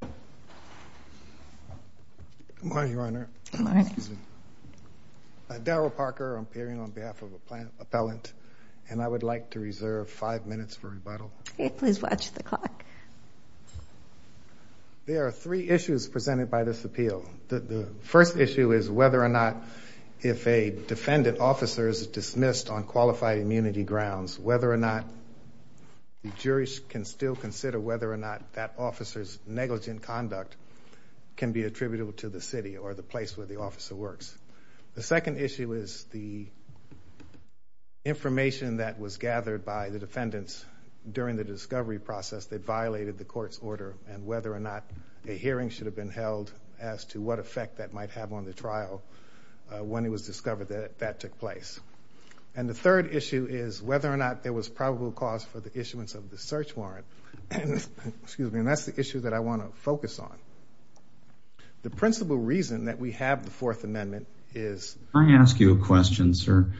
Good morning, Your Honor. Good morning. Darryl Parker, I'm appearing on behalf of an appellant, and I would like to reserve five minutes for rebuttal. Please watch the clock. There are three issues presented by this appeal. The first issue is whether or not if a defendant officer is dismissed on qualified immunity grounds, whether or not the jury can still conduct can be attributable to the city or the place where the officer works. The second issue is the information that was gathered by the defendants during the discovery process that violated the court's order and whether or not a hearing should have been held as to what effect that might have on the trial when it was discovered that that took place. And the third issue is whether or not there was probable cause for the issuance of the search warrant. Excuse me. And that's the issue that I want to focus on. The principal reason that we have the Fourth Amendment is I ask you a question, sir.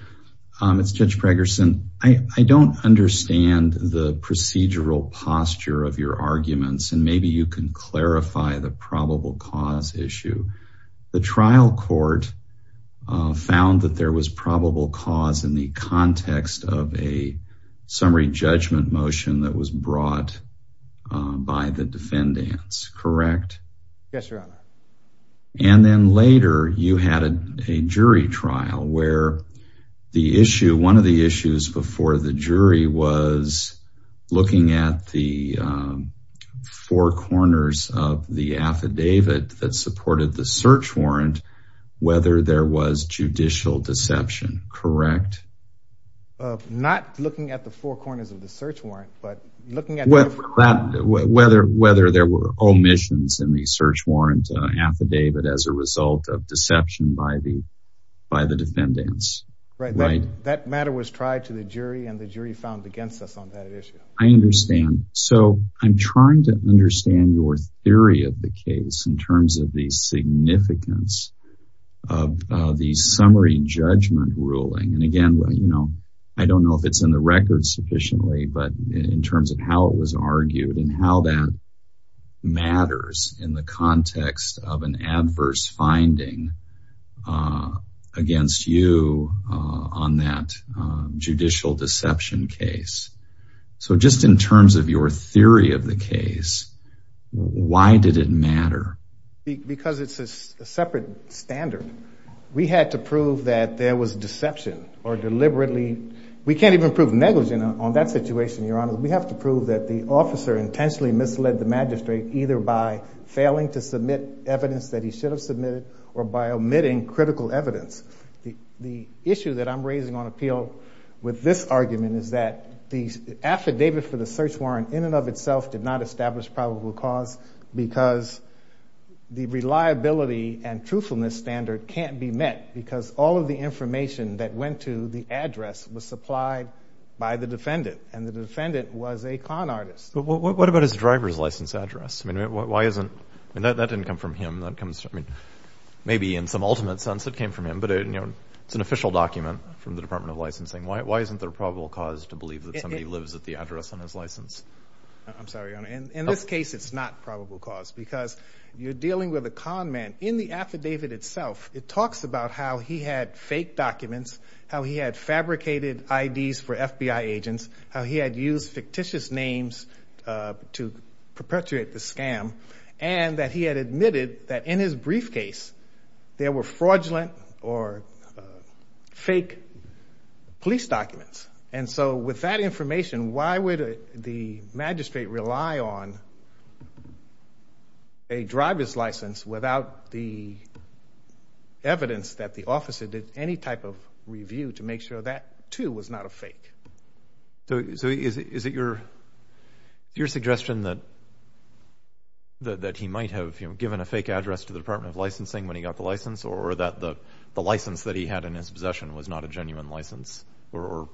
It's Judge Pregerson. I don't understand the procedural posture of your arguments, and maybe you can clarify the probable cause issue. The trial court found that there was probable cause in the brought by the defendants, correct? Yes, Your Honor. And then later you had a jury trial where the issue, one of the issues before the jury was looking at the four corners of the affidavit that supported the search warrant, whether there was judicial deception, correct? Not looking at the four corners of the search warrant, but looking at whether there were omissions in the search warrant affidavit as a result of deception by the defendants. That matter was tried to the jury, and the jury found against us on that issue. I understand. So I'm trying to understand your theory of the case in terms of the significance of the jury judgment ruling. And again, you know, I don't know if it's in the record sufficiently, but in terms of how it was argued and how that matters in the context of an adverse finding against you on that judicial deception case. So just in terms of your theory of the deception or deliberately, we can't even prove negligent on that situation, Your Honor. We have to prove that the officer intentionally misled the magistrate either by failing to submit evidence that he should have submitted or by omitting critical evidence. The issue that I'm raising on appeal with this argument is that the affidavit for the search warrant in and of itself did not establish probable cause because the reliability and truthfulness standard can't be met because all of the information that went to the address was supplied by the defendant, and the defendant was a con artist. But what about his driver's license address? I mean, why isn't, that didn't come from him. That comes, I mean, maybe in some ultimate sense it came from him, but it, you know, it's an official document from the Department of Licensing. Why isn't there probable cause to believe that somebody lives at the address on his license? I'm sorry, Your Honor. In this case, it's not probable cause because you're dealing with a con man. In the affidavit itself, it talks about how he had fake documents, how he had fabricated IDs for FBI agents, how he had used fictitious names to perpetuate the scam, and that he had admitted that in his briefcase there were fraudulent or fake police documents. And so with that information, why would the magistrate rely on a driver's license without the evidence that the officer did any type of review to make sure that, too, was not a fake? So is it your suggestion that he might have given a fake address to the Department of Licensing when he got the license, or that the license that he had in his possession was not a genuine license, or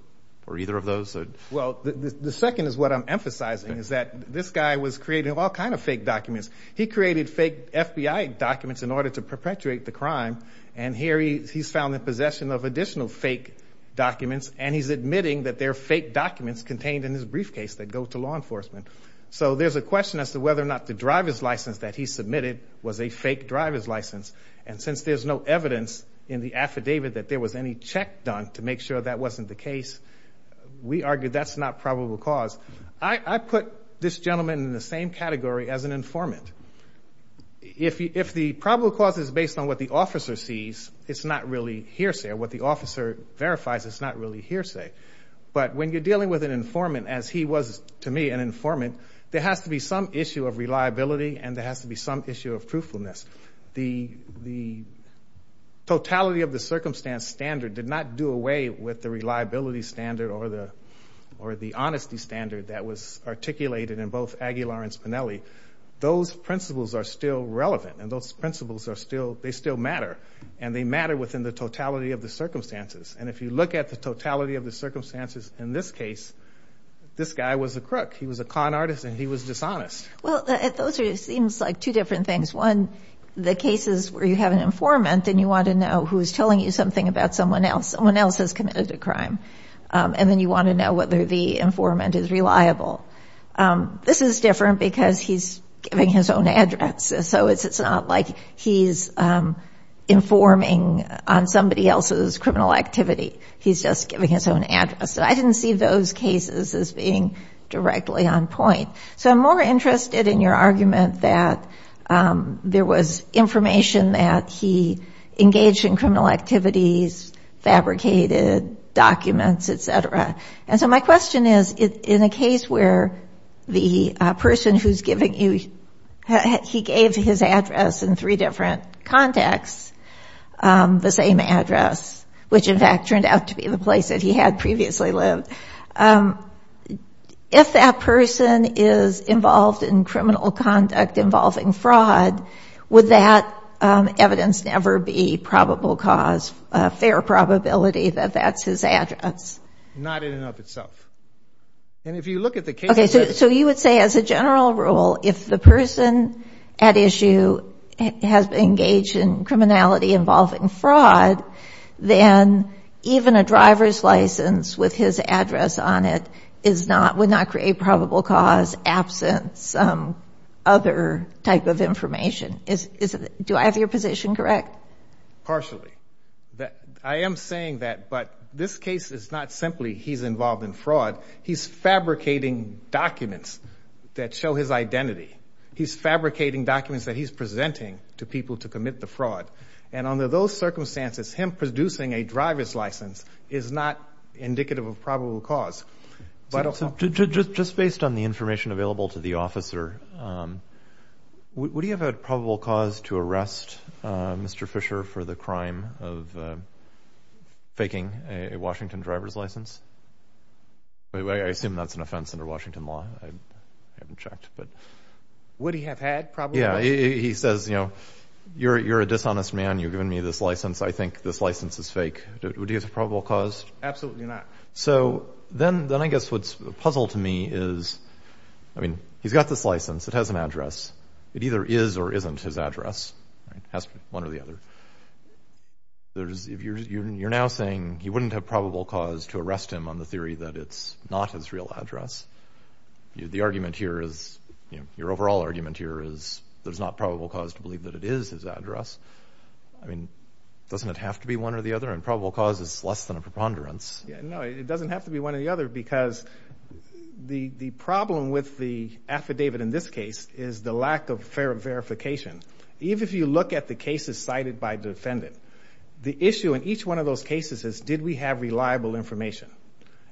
either of those? Well, the second is what I'm emphasizing, is that this guy was creating all kind of fake documents. He created fake FBI documents in order to perpetuate the crime, and here he's found in possession of additional fake documents, and he's admitting that they're fake documents contained in his briefcase that go to law enforcement. So there's a question as to whether or not the driver's license that he submitted was a fake driver's license. And since there's no evidence in the affidavit that there was any check done to make sure that wasn't the case, we argue that's not probable cause. I put this gentleman in the same category as an informant. If the probable cause is based on what the officer sees, it's not really hearsay. What the officer verifies, it's not really hearsay. But when you're dealing with an informant, as he was to me an informant, there has to be some issue of reliability, and there has to be some issue of truthfulness. The totality of the circumstance standard did not do away with the reliability standard or the honesty standard that was articulated in both Aguilar and Spinelli. Those principles are still relevant, and those principles are still, they still matter. And they matter within the totality of the circumstances. And if you look at the totality of the circumstances in this case, this guy was a crook. He was a con artist, and he was dishonest. Well, those are, it seems like two different things. One, the cases where you have an informant, and you want to know who's telling you something about someone else, someone else has committed a crime. And then you want to know whether the informant is reliable. This is different because he's giving his own address. So it's not like he's informing on somebody else's criminal activity. He's just giving his own address. So I didn't see those cases as being directly on the case. I'm interested in your argument that there was information that he engaged in criminal activities, fabricated documents, et cetera. And so my question is, in a case where the person who's giving you, he gave his address in three different contexts, the same address, which in fact turned out to be the place that he had previously lived. If that person is involved in criminal conduct involving fraud, would that evidence never be probable cause, a fair probability that that's his address? Not in and of itself. And if you look at the case... Okay, so you would say as a general rule, if the person at issue has been engaged in criminality involving fraud, then even a driver's license with his address on it is not, would not create probable cause, absence, other type of information. Do I have your position correct? Partially. I am saying that, but this case is not simply he's involved in fraud. He's fabricating documents that show his identity. He's fabricating documents that he's presenting to people to commit the fraud. And under those circumstances, him producing a driver's license is not indicative of probable cause. Just based on the information available to the officer, would he have a probable cause to arrest Mr. Fisher for the crime of faking a Washington driver's license? I assume that's an offense under Washington law. I haven't checked, but... Would he have had probable cause? Yeah. He says, you're a dishonest man. You've given me this So then I guess what's a puzzle to me is, I mean, he's got this license. It has an address. It either is or isn't his address. It has to be one or the other. You're now saying you wouldn't have probable cause to arrest him on the theory that it's not his real address. The argument here is, you know, your overall argument here is there's not probable cause to believe that it is his address. I mean, doesn't it have to be one or the other? And probable cause is less than a doesn't have to be one or the other because the problem with the affidavit in this case is the lack of verification. Even if you look at the cases cited by defendant, the issue in each one of those cases is, did we have reliable information?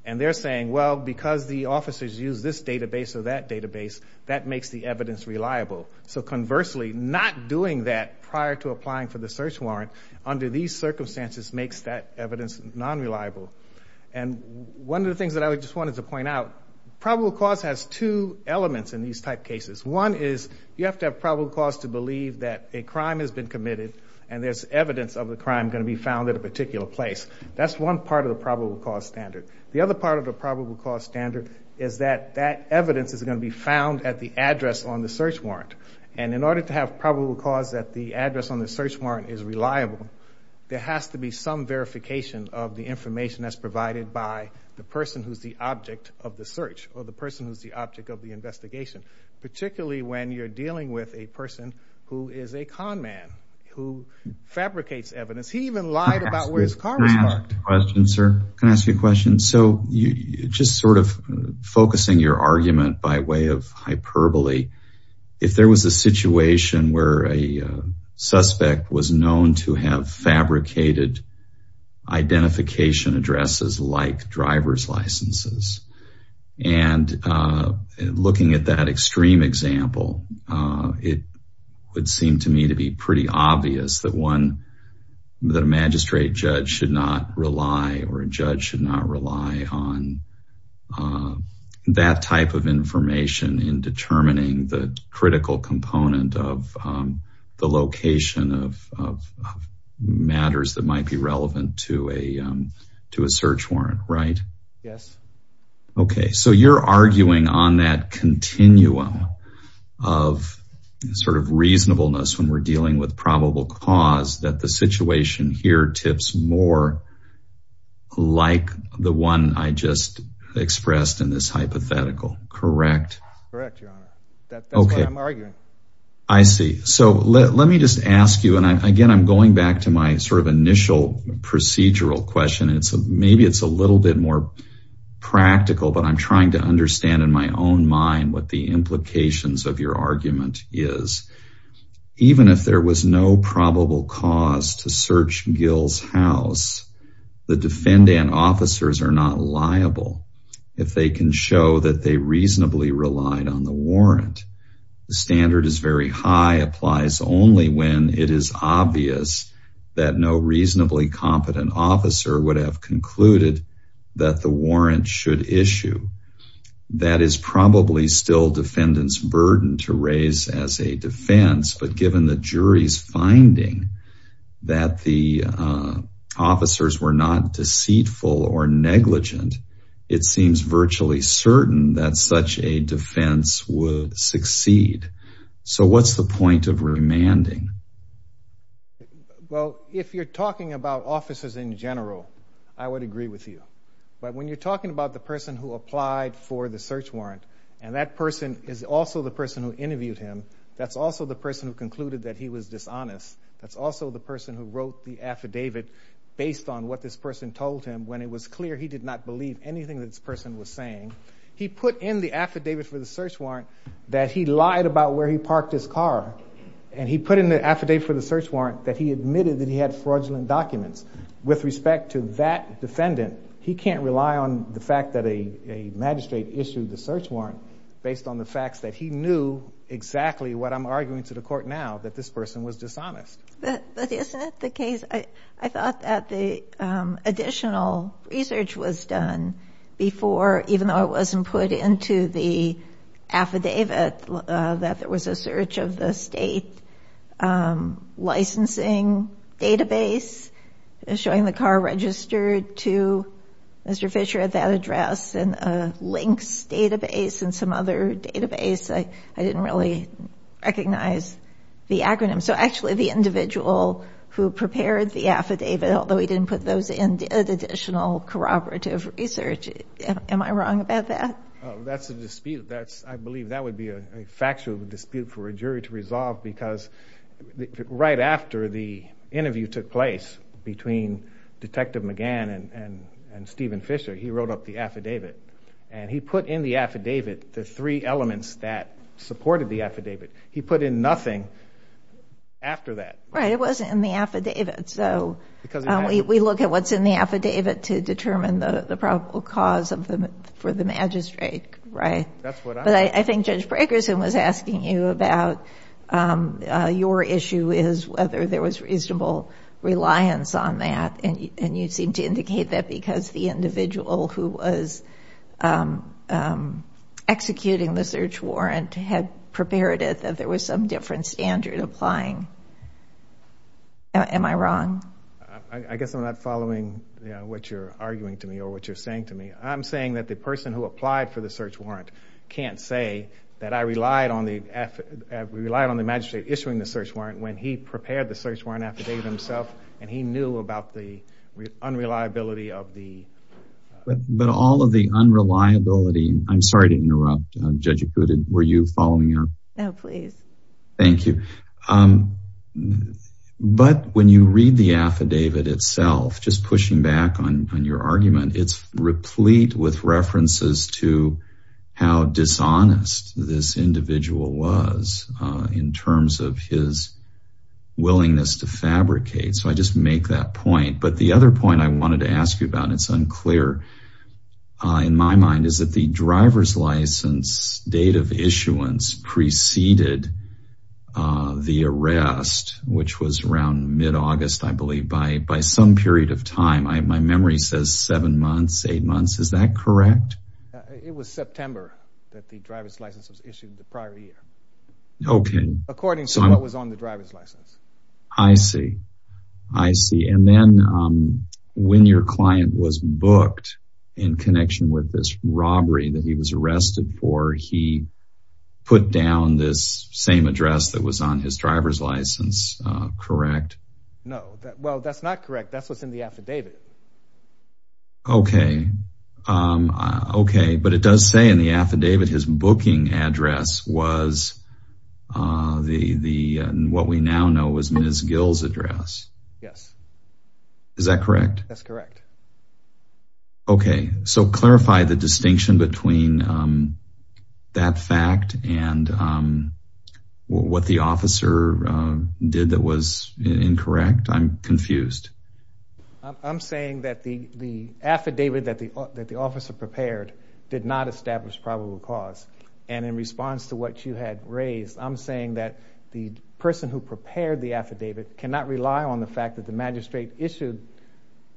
And they're saying, well, because the officers use this database or that database, that makes the evidence reliable. So conversely, not doing that prior to applying for the search warrant under these circumstances makes that evidence non-reliable. And one of the things that I just wanted to point out, probable cause has two elements in these type cases. One is you have to have probable cause to believe that a crime has been committed and there's evidence of the crime going to be found at a particular place. That's one part of the probable cause standard. The other part of the probable cause standard is that that evidence is going to be found at the address on the search warrant. And in order to have probable cause that the address on the search warrant is reliable, there has to be some verification of the information that's provided by the person who's the object of the search or the person who's the object of the investigation. Particularly when you're dealing with a person who is a con man, who fabricates evidence. He even lied about where his car was parked. Can I ask you a question, sir? Can I ask you a question? So you just sort of focusing your argument by way of hyperbole. If there was a situation where a suspect was known to have fabricated identification addresses like driver's licenses and looking at that extreme example, it would seem to me to be pretty obvious that a magistrate judge should not rely or a judge should not rely on that type of information in determining the critical component of the matters that might be relevant to a to a search warrant, right? Yes. Okay. So you're arguing on that continuum of sort of reasonableness when we're dealing with probable cause that the situation here tips more like the one I just expressed in this hypothetical, correct? Correct, Your Honor. That's what I'm arguing. I see. So let me just ask you, and again, I'm going back to my sort of initial procedural question. Maybe it's a little bit more practical, but I'm trying to understand in my own mind what the implications of your argument is. Even if there was no probable cause to search Gill's house, the defendant officers are not liable if they can show that they reasonably relied on the warrant. The standard is very high, applies only when it is obvious that no reasonably competent officer would have concluded that the warrant should issue. That is probably still defendant's burden to raise as a defense, but given the jury's finding that the officers were not deceitful or negligent, it seems virtually certain that such a defense would succeed. So what's the point of remanding? Well, if you're talking about officers in general, I would agree with you. But when you're talking about the person who applied for the search warrant, and that person is also the person who interviewed him, that's also the person who was dishonest. That's also the person who wrote the affidavit based on what this person told him when it was clear he did not believe anything that this person was saying. He put in the affidavit for the search warrant that he lied about where he parked his car, and he put in the affidavit for the search warrant that he admitted that he had fraudulent documents. With respect to that defendant, he can't rely on the fact that a magistrate issued the search warrant based on the facts that he knew exactly what I'm arguing to the court now, that this person was dishonest. But isn't it the case? I thought that the additional research was done before, even though it wasn't put into the affidavit, that there was a search of the state licensing database showing the car registered to Mr. Fisher at that address, and a links database, and some other database. I didn't really recognize the acronym. So actually the individual who prepared the affidavit, although he didn't put those in, did additional corroborative research. Am I wrong about that? That's a dispute. I believe that would be a factual dispute for a jury to resolve because right after the interview took place between Detective McGann and Stephen Fisher, he wrote up the affidavit, and he put in the affidavit the three elements that supported the affidavit. He put in nothing after that. Right, it wasn't in the affidavit. So we look at what's in the affidavit to determine the probable cause for the magistrate, right? But I think Judge Braggerson was asking you about your issue is whether there was reasonable reliance on that, and you seem to indicate that because the individual who was executing the search warrant had prepared it that there was some different standard applying. Am I wrong? I guess I'm not following what you're arguing to me or what you're saying to me. I'm saying that the person who applied for the search warrant can't say that I relied on the magistrate issuing the search warrant when he prepared the search warrant affidavit himself, and he knew about the unreliability of the... But all of the unreliability... I'm sorry to interrupt. Judge Acuda, were you following your... No, please. Thank you. But when you read the affidavit itself, just pushing back on your argument, it's replete with references to how dishonest this individual was in terms of his willingness to fabricate. So I just make that point. But the other point I wanted to ask you about, and it's unclear in my mind, is that the driver's license date of issuance preceded the arrest, which was around mid-August, I believe, by some period of time. My memory says seven months, eight months. Is that correct? It was September that the driver's license was issued the prior year. Okay. According to what was on the driver's license. I see. I see. And then when your client was booked in connection with this robbery that he was arrested for, he put down this same address that was on his driver's license, correct? No. Well, that's not correct. That's what's in the affidavit. Okay. Okay. But it does say in the affidavit his booking address was what we now know as Ms. Gill's address. Yes. Is that correct? That's correct. Okay. So clarify the distinction between that fact and what the officer did that was incorrect. I'm confused. I'm saying that the affidavit that the officer prepared did not establish probable cause. And in response to what you had raised, I'm saying that the person who prepared the affidavit cannot rely on the fact that the magistrate issued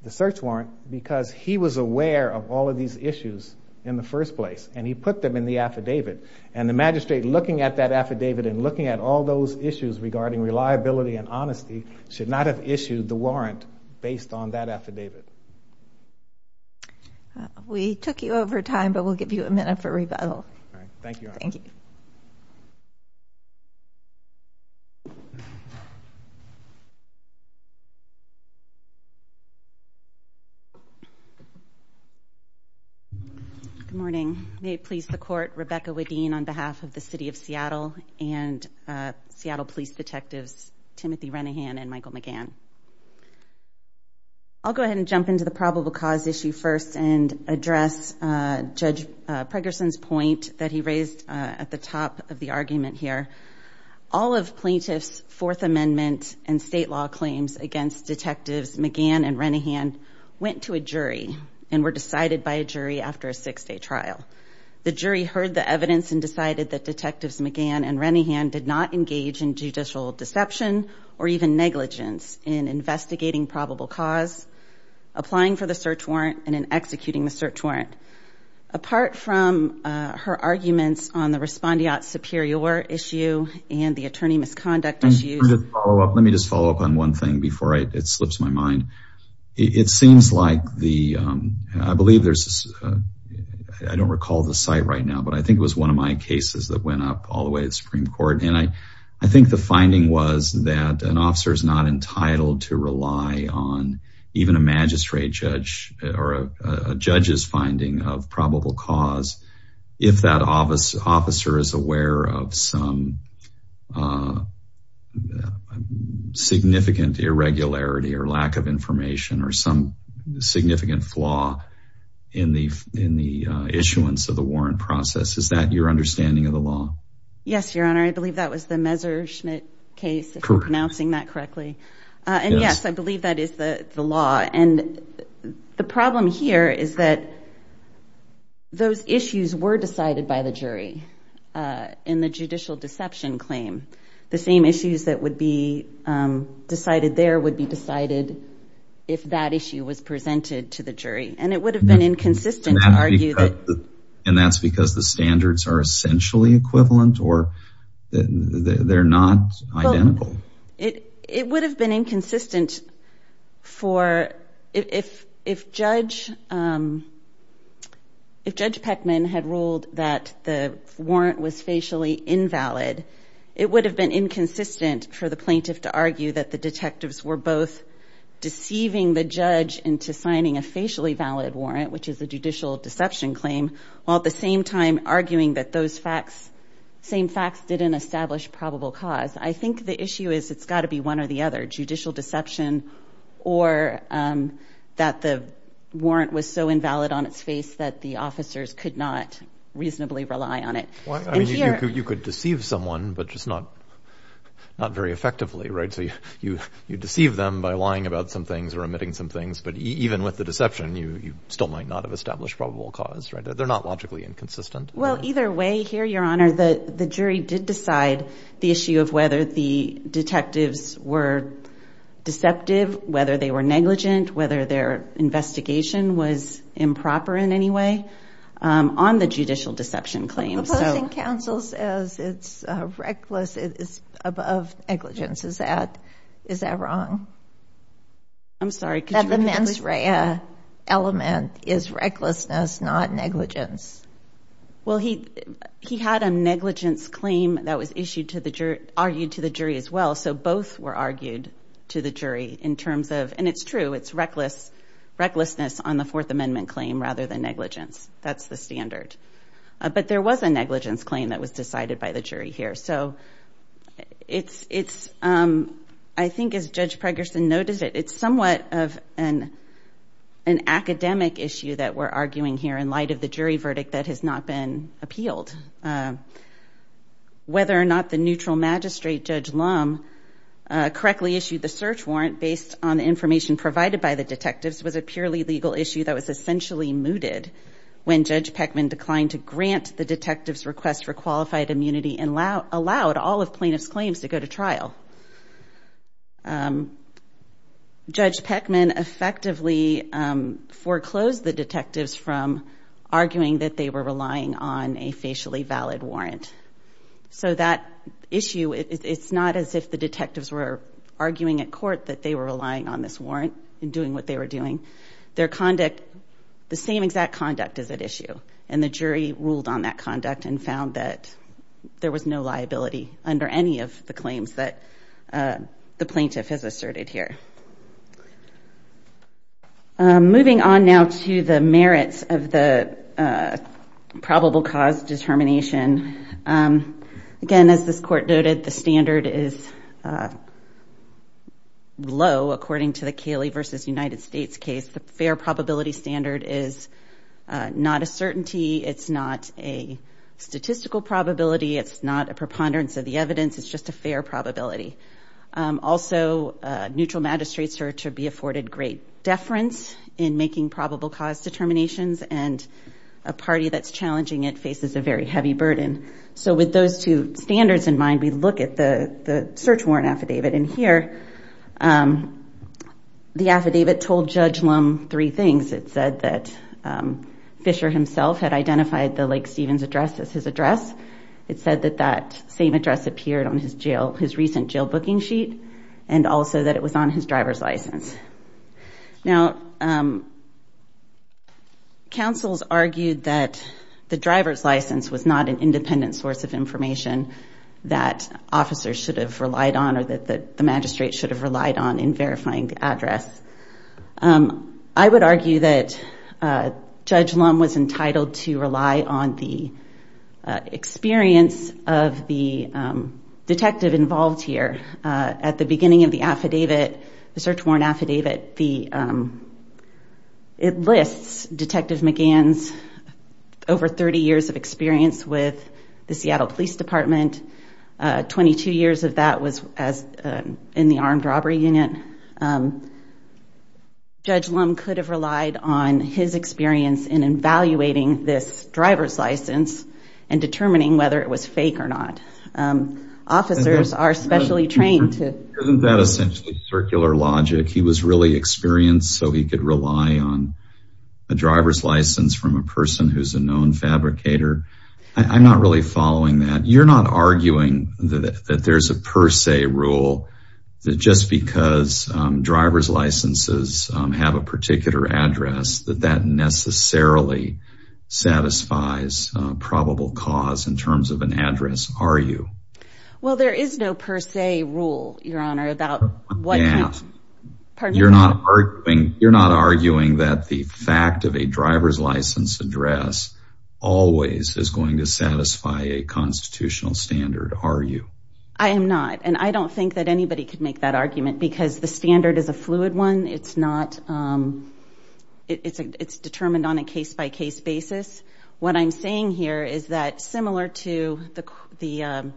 the search warrant because he was aware of all of these issues in the first place. And he put them in the affidavit. And the magistrate looking at that affidavit and looking at all those issues regarding reliability and honesty should not have issued the warrant based on that affidavit. We took you over time, but we'll give you a minute for rebuttal. All right. Thank you. Thank you. Good morning. May it please the court, Rebecca Wedeen on behalf of the City of Seattle and Seattle Police Detectives Timothy Renahan and Michael McGann. I'll go ahead and jump into the probable cause issue first and address Judge Pregerson's point that he raised at the top of the argument here. All of plaintiff's Fourth Amendment and state law claims against Detectives McGann and Renahan went to a jury and were decided by a jury after a six day trial. The jury heard the evidence and decided that Detectives McGann and Renahan did not engage in judicial deception or even negligence in investigating probable cause, applying for the search warrant, and in executing the search warrant. Apart from her arguments on the respondeat superior issue and the attorney misconduct issue. Let me just follow up on one thing before it slips my mind. It seems like the, I believe there's, I don't recall the site right now, but I think it was one of my cases that went up all the way to the Supreme Court. And I think the finding was that an officer is not entitled to rely on even a magistrate judge or a judge's finding of probable cause if that officer is aware of some significant irregularity or lack of information or some significant flaw in the issuance of the warrant process. Is that your understanding of the law? Yes, your honor. I believe that was the Messerschmitt case, if I'm pronouncing that correctly. And yes, I believe that is the law. And the problem here is that those issues were decided by the jury in the judicial deception claim. The same issues that would be decided there would be decided if that issue was presented to the jury. And it would have been inconsistent to argue that. And that's because the standards are essentially equivalent or they're not identical. It would have been inconsistent for, if Judge Peckman had ruled that the warrant was facially invalid, it would have been inconsistent for the plaintiff to argue that the detectives were both deceiving the judge into signing a facially valid warrant, which is a judicial deception claim, while at the same time arguing that those same facts didn't establish probable cause. I think the issue is it's got to be one or the other, judicial deception or that warrant was so invalid on its face that the officers could not reasonably rely on it. You could deceive someone, but just not very effectively, right? So you deceive them by lying about some things or omitting some things. But even with the deception, you still might not have established probable cause, right? They're not logically inconsistent. Well, either way here, your honor, the jury did decide the issue of whether the detectives were deceptive, whether they were negligent, whether their investigation was improper in any way on the judicial deception claim. Opposing counsel says it's reckless, it's above negligence. Is that wrong? I'm sorry. That the mens rea element is recklessness, not negligence. Well, he had a negligence claim that was argued to the jury as well. So both were argued to the jury in terms of, and it's true, it's reckless, recklessness on the Fourth Amendment claim rather than negligence. That's the standard. But there was a negligence claim that was decided by the jury here. So it's, I think as Judge Pregerson noted, it's somewhat of an academic issue that we're arguing here in light of the jury verdict that has not been appealed. Whether or not the neutral magistrate Judge Lum correctly issued the search warrant based on the information provided by the detectives was a purely legal issue that was essentially mooted when Judge Peckman declined to grant the detectives request for qualified immunity and allowed all of plaintiffs claims to go to trial. Judge Peckman effectively foreclosed the detectives from arguing that they were relying on a facially valid warrant. So that issue, it's not as if the detectives were arguing at court that they were relying on this warrant and doing what they were doing. Their conduct, the same exact conduct is at issue. And the jury ruled on that conduct and found that there was no liability under any of the claims that the plaintiff has asserted here. Moving on now to the merits of the probable cause determination. Again, as this court noted, the standard is low according to the Cayley v. United States case. The fair probability standard is not a certainty. It's not a statistical probability. It's not a preponderance of the afforded great deference in making probable cause determinations and a party that's challenging it faces a very heavy burden. So with those two standards in mind, we look at the search warrant affidavit. And here, the affidavit told Judge Lum three things. It said that Fisher himself had identified the Lake Stevens address as his address. It said that that same address appeared on his recent jail booking sheet and also that it was on his driver's license. Now, counsels argued that the driver's license was not an independent source of information that officers should have relied on or that the magistrate should have relied on in verifying the address. I would argue that Judge Lum was entitled to rely on the experience of the detective involved here. At the beginning of the affidavit, the search warrant affidavit, it lists Detective McGann's over 30 years of experience with the Seattle Police Department. Twenty-two years of that was in the armed robbery unit. Judge Lum could have relied on his experience in evaluating this driver's license and determining whether it was fake or not. Officers are specially trained to... Isn't that essentially circular logic? He was really experienced so he could rely on a driver's license from a person who's a known fabricator. I'm not really following that. You're not arguing that there's a per se rule that just because driver's licenses have a particular address, that that necessarily satisfies probable cause in terms of an address, are you? Well, there is no per se rule, Your Honor. You're not arguing that the fact of a driver's license address always is going to satisfy a constitutional standard, are you? I am not. I don't think that anybody could make that argument because the standard is a fluid one. It's determined on a case-by-case basis. What I'm saying here is that similar to the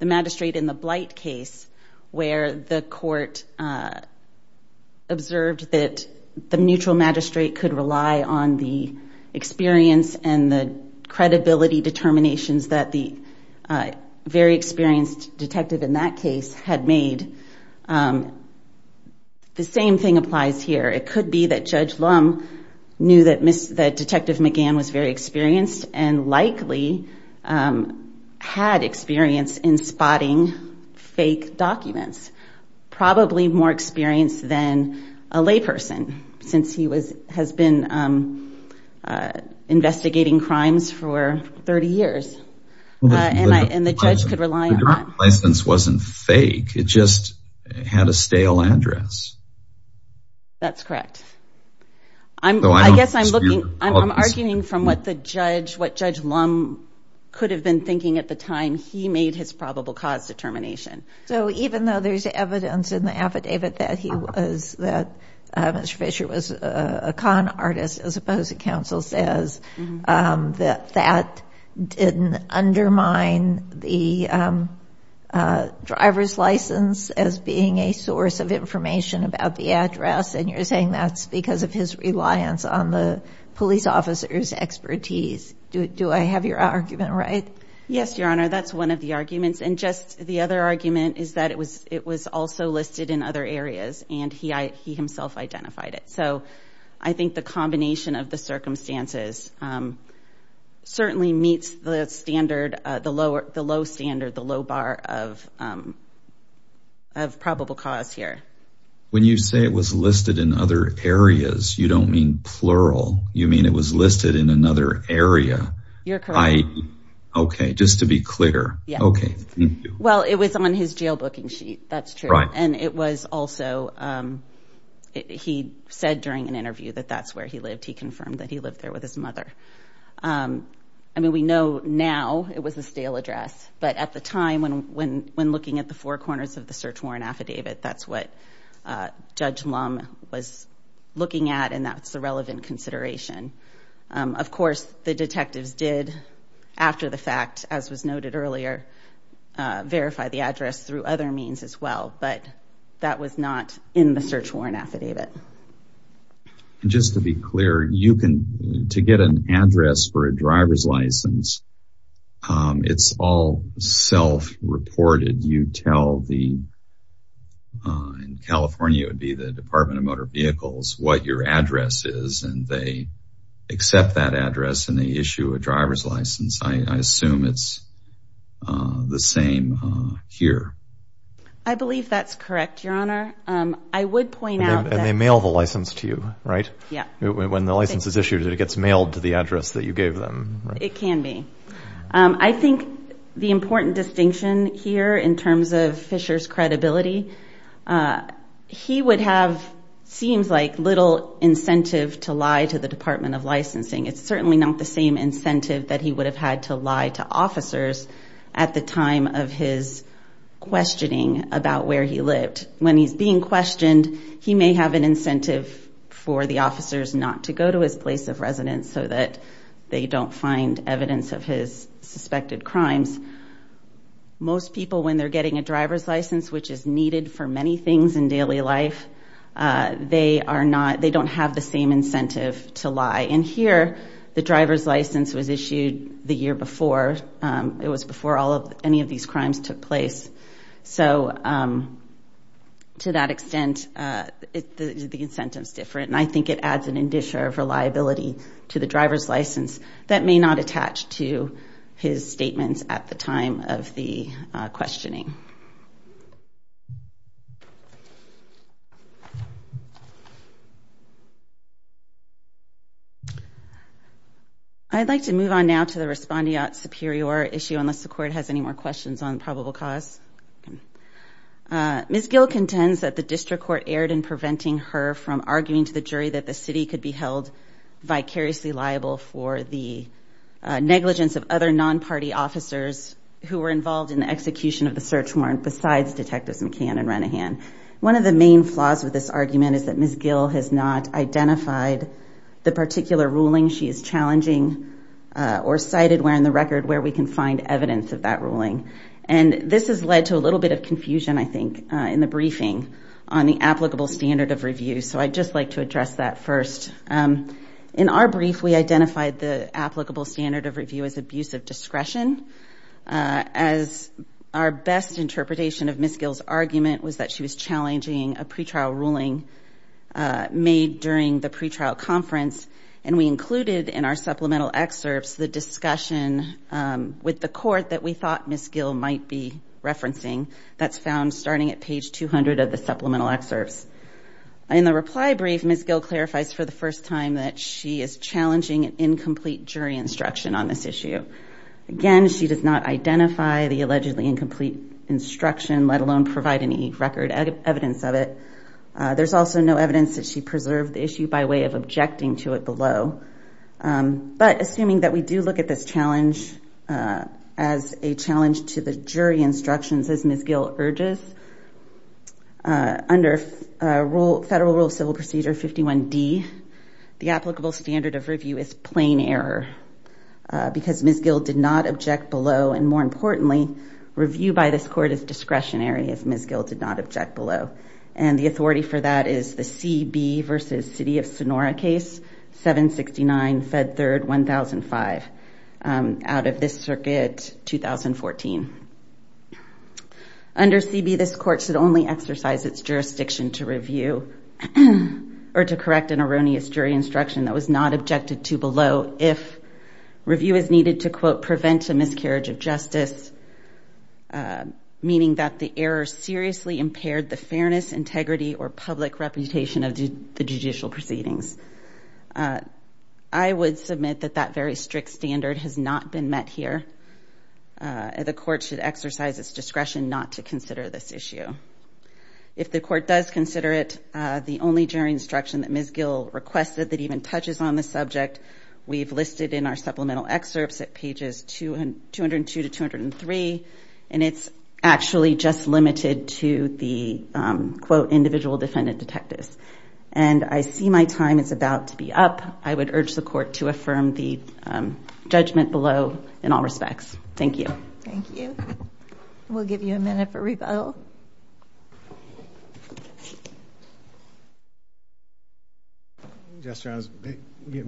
magistrate in the Blight case where the court observed that the neutral magistrate could rely on the experience and the credibility determinations that the very experienced detective in that case had made, the same thing applies here. It could be that Judge Lum knew that Detective McGann was very experienced and likely had experience in spotting fake documents, probably more experienced than a layperson since he has been investigating crimes for 30 years. And the judge could rely on... The license wasn't fake. It just had a stale address. That's correct. I guess I'm looking... I'm arguing from what the judge, what Judge Lum could have been thinking at the time he made his probable cause determination. So even though there's evidence in the affidavit that he was, that Mr. Fisher was a con artist, as opposed to counsel says, that that didn't undermine the driver's license as being a source of information about the address. And you're saying that's because of his reliance on the police officer's expertise. Do I have your argument right? Yes, Your Honor. That's one of the arguments. And just the other argument is that it was also listed in other areas and he himself identified it. So I think the combination of the circumstances certainly meets the low standard, the low bar of probable cause here. When you say it was listed in other areas, you don't mean plural. You mean it was listed in another area? You're correct. Okay. Just to be he said during an interview that that's where he lived. He confirmed that he lived there with his mother. I mean, we know now it was a stale address, but at the time when looking at the four corners of the search warrant affidavit, that's what Judge Lum was looking at and that's the relevant consideration. Of course, the detectives did, after the fact, as was noted earlier, verify the address through other means as well, but that was not in the search warrant affidavit. Just to be clear, you can, to get an address for a driver's license, it's all self-reported. You tell the, in California it would be the Department of Motor Vehicles, what your address is and they that address and they issue a driver's license. I assume it's the same here. I believe that's correct, your honor. I would point out that... And they mail the license to you, right? Yeah. When the license is issued, it gets mailed to the address that you gave them. It can be. I think the important distinction here in terms of Fisher's credibility, he would have, seems like, little incentive to lie to the Department of Licensing. It's certainly not the same incentive that he would have had to lie to officers at the time of his questioning about where he lived. When he's being questioned, he may have an incentive for the officers not to go to his place of residence so that they don't find evidence of his suspected crimes. Most people, when they're getting a driver's license, which is needed for many things in daily life, they are not, they don't have the same incentive to lie. And here, the driver's license was issued the year before. It was before all of, any of these crimes took place. So, to that extent, the incentive's different. And I think it adds an addition of reliability to the driver's license that may not attach to his statements at the time of the questioning. I'd like to move on now to the respondeat superior issue, unless the court has any more questions on probable cause. Ms. Gill contends that the district court erred in preventing her from arguing to the jury that the city could be held vicariously liable for the negligence of other non-party officers who were involved in the execution of the search warrant besides Detectives McCann and Renahan. One of the main flaws with this argument is that Ms. Gill has not identified the particular ruling she is challenging or cited where in the record where we can find evidence of that ruling. And this has led to a little bit of confusion, I think, in the briefing on the applicable standard of review. So, I'd just like to address that first. In our brief, we identified the applicable standard of review as abuse of discretion as our best interpretation of Ms. Gill's argument was that she was challenging a pre-trial ruling made during the pre-trial conference. And we included in our supplemental excerpts the discussion with the court that we thought Ms. Gill might be referencing that's found starting at page 200 of the supplemental excerpts. In the reply brief, Ms. Gill clarifies for the first time that she is challenging an incomplete jury instruction on this issue. Again, she does not identify the allegedly incomplete instruction let alone provide any record evidence of it. There's also no evidence that she preserved the issue by way of objecting to it below. But assuming that we do look at this under Federal Rule of Civil Procedure 51D, the applicable standard of review is plain error because Ms. Gill did not object below. And more importantly, review by this court is discretionary if Ms. Gill did not object below. And the authority for that is the CB versus City of Sonora case 769 Fed Third 1005 out of this circuit 2014. Under CB, this court should only exercise its jurisdiction to review or to correct an erroneous jury instruction that was not objected to below if review is needed to quote, prevent a miscarriage of justice, meaning that the error seriously impaired the fairness, integrity, or public reputation of the judicial proceedings. I would submit that that very strict standard has not been met here. The court should exercise its discretion not to consider this issue. If the court does consider it the only jury instruction that Ms. Gill requested that even touches on the subject, we've listed in our supplemental excerpts at pages 202 to 203, and it's actually just limited to the quote, individual defendant detectives. And I see my time is about to be up. I would urge the court to affirm the judgment below in all respects. Thank you. Thank you. We'll give you a minute for rebuttal. Yes, Your Honor.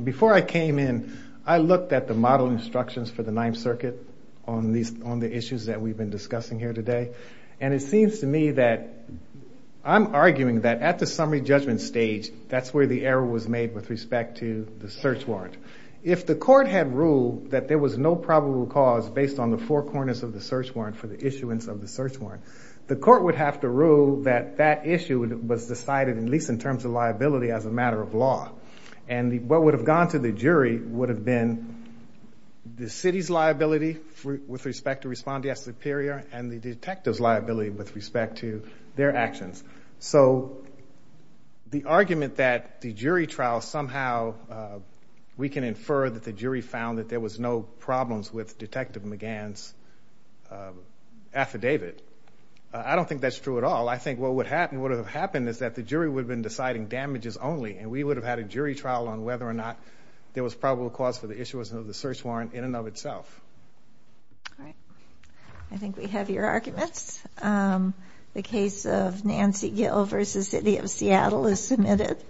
Before I came in, I looked at the model instructions for the Ninth Circuit on the issues that we've been discussing here today. And it seems to me that I'm arguing that at the summary judgment stage, that's where the error was made with respect to the search warrant. If the court had ruled that there was no probable cause based on the four corners of the search warrant for the issuance of the search warrant, the court would have to rule that that issue was decided at least in terms of liability as a matter of law. And what would have gone to the with respect to respondeat superior and the detective's liability with respect to their actions. So the argument that the jury trial somehow, we can infer that the jury found that there was no problems with Detective McGann's affidavit. I don't think that's true at all. I think what would have happened is that the jury would have been deciding damages only, and we would have had a jury trial on whether or not there was probable cause for the issuance of the search warrant in and of itself. All right. I think we have your arguments. The case of Nancy Gill v. City of Seattle is submitted.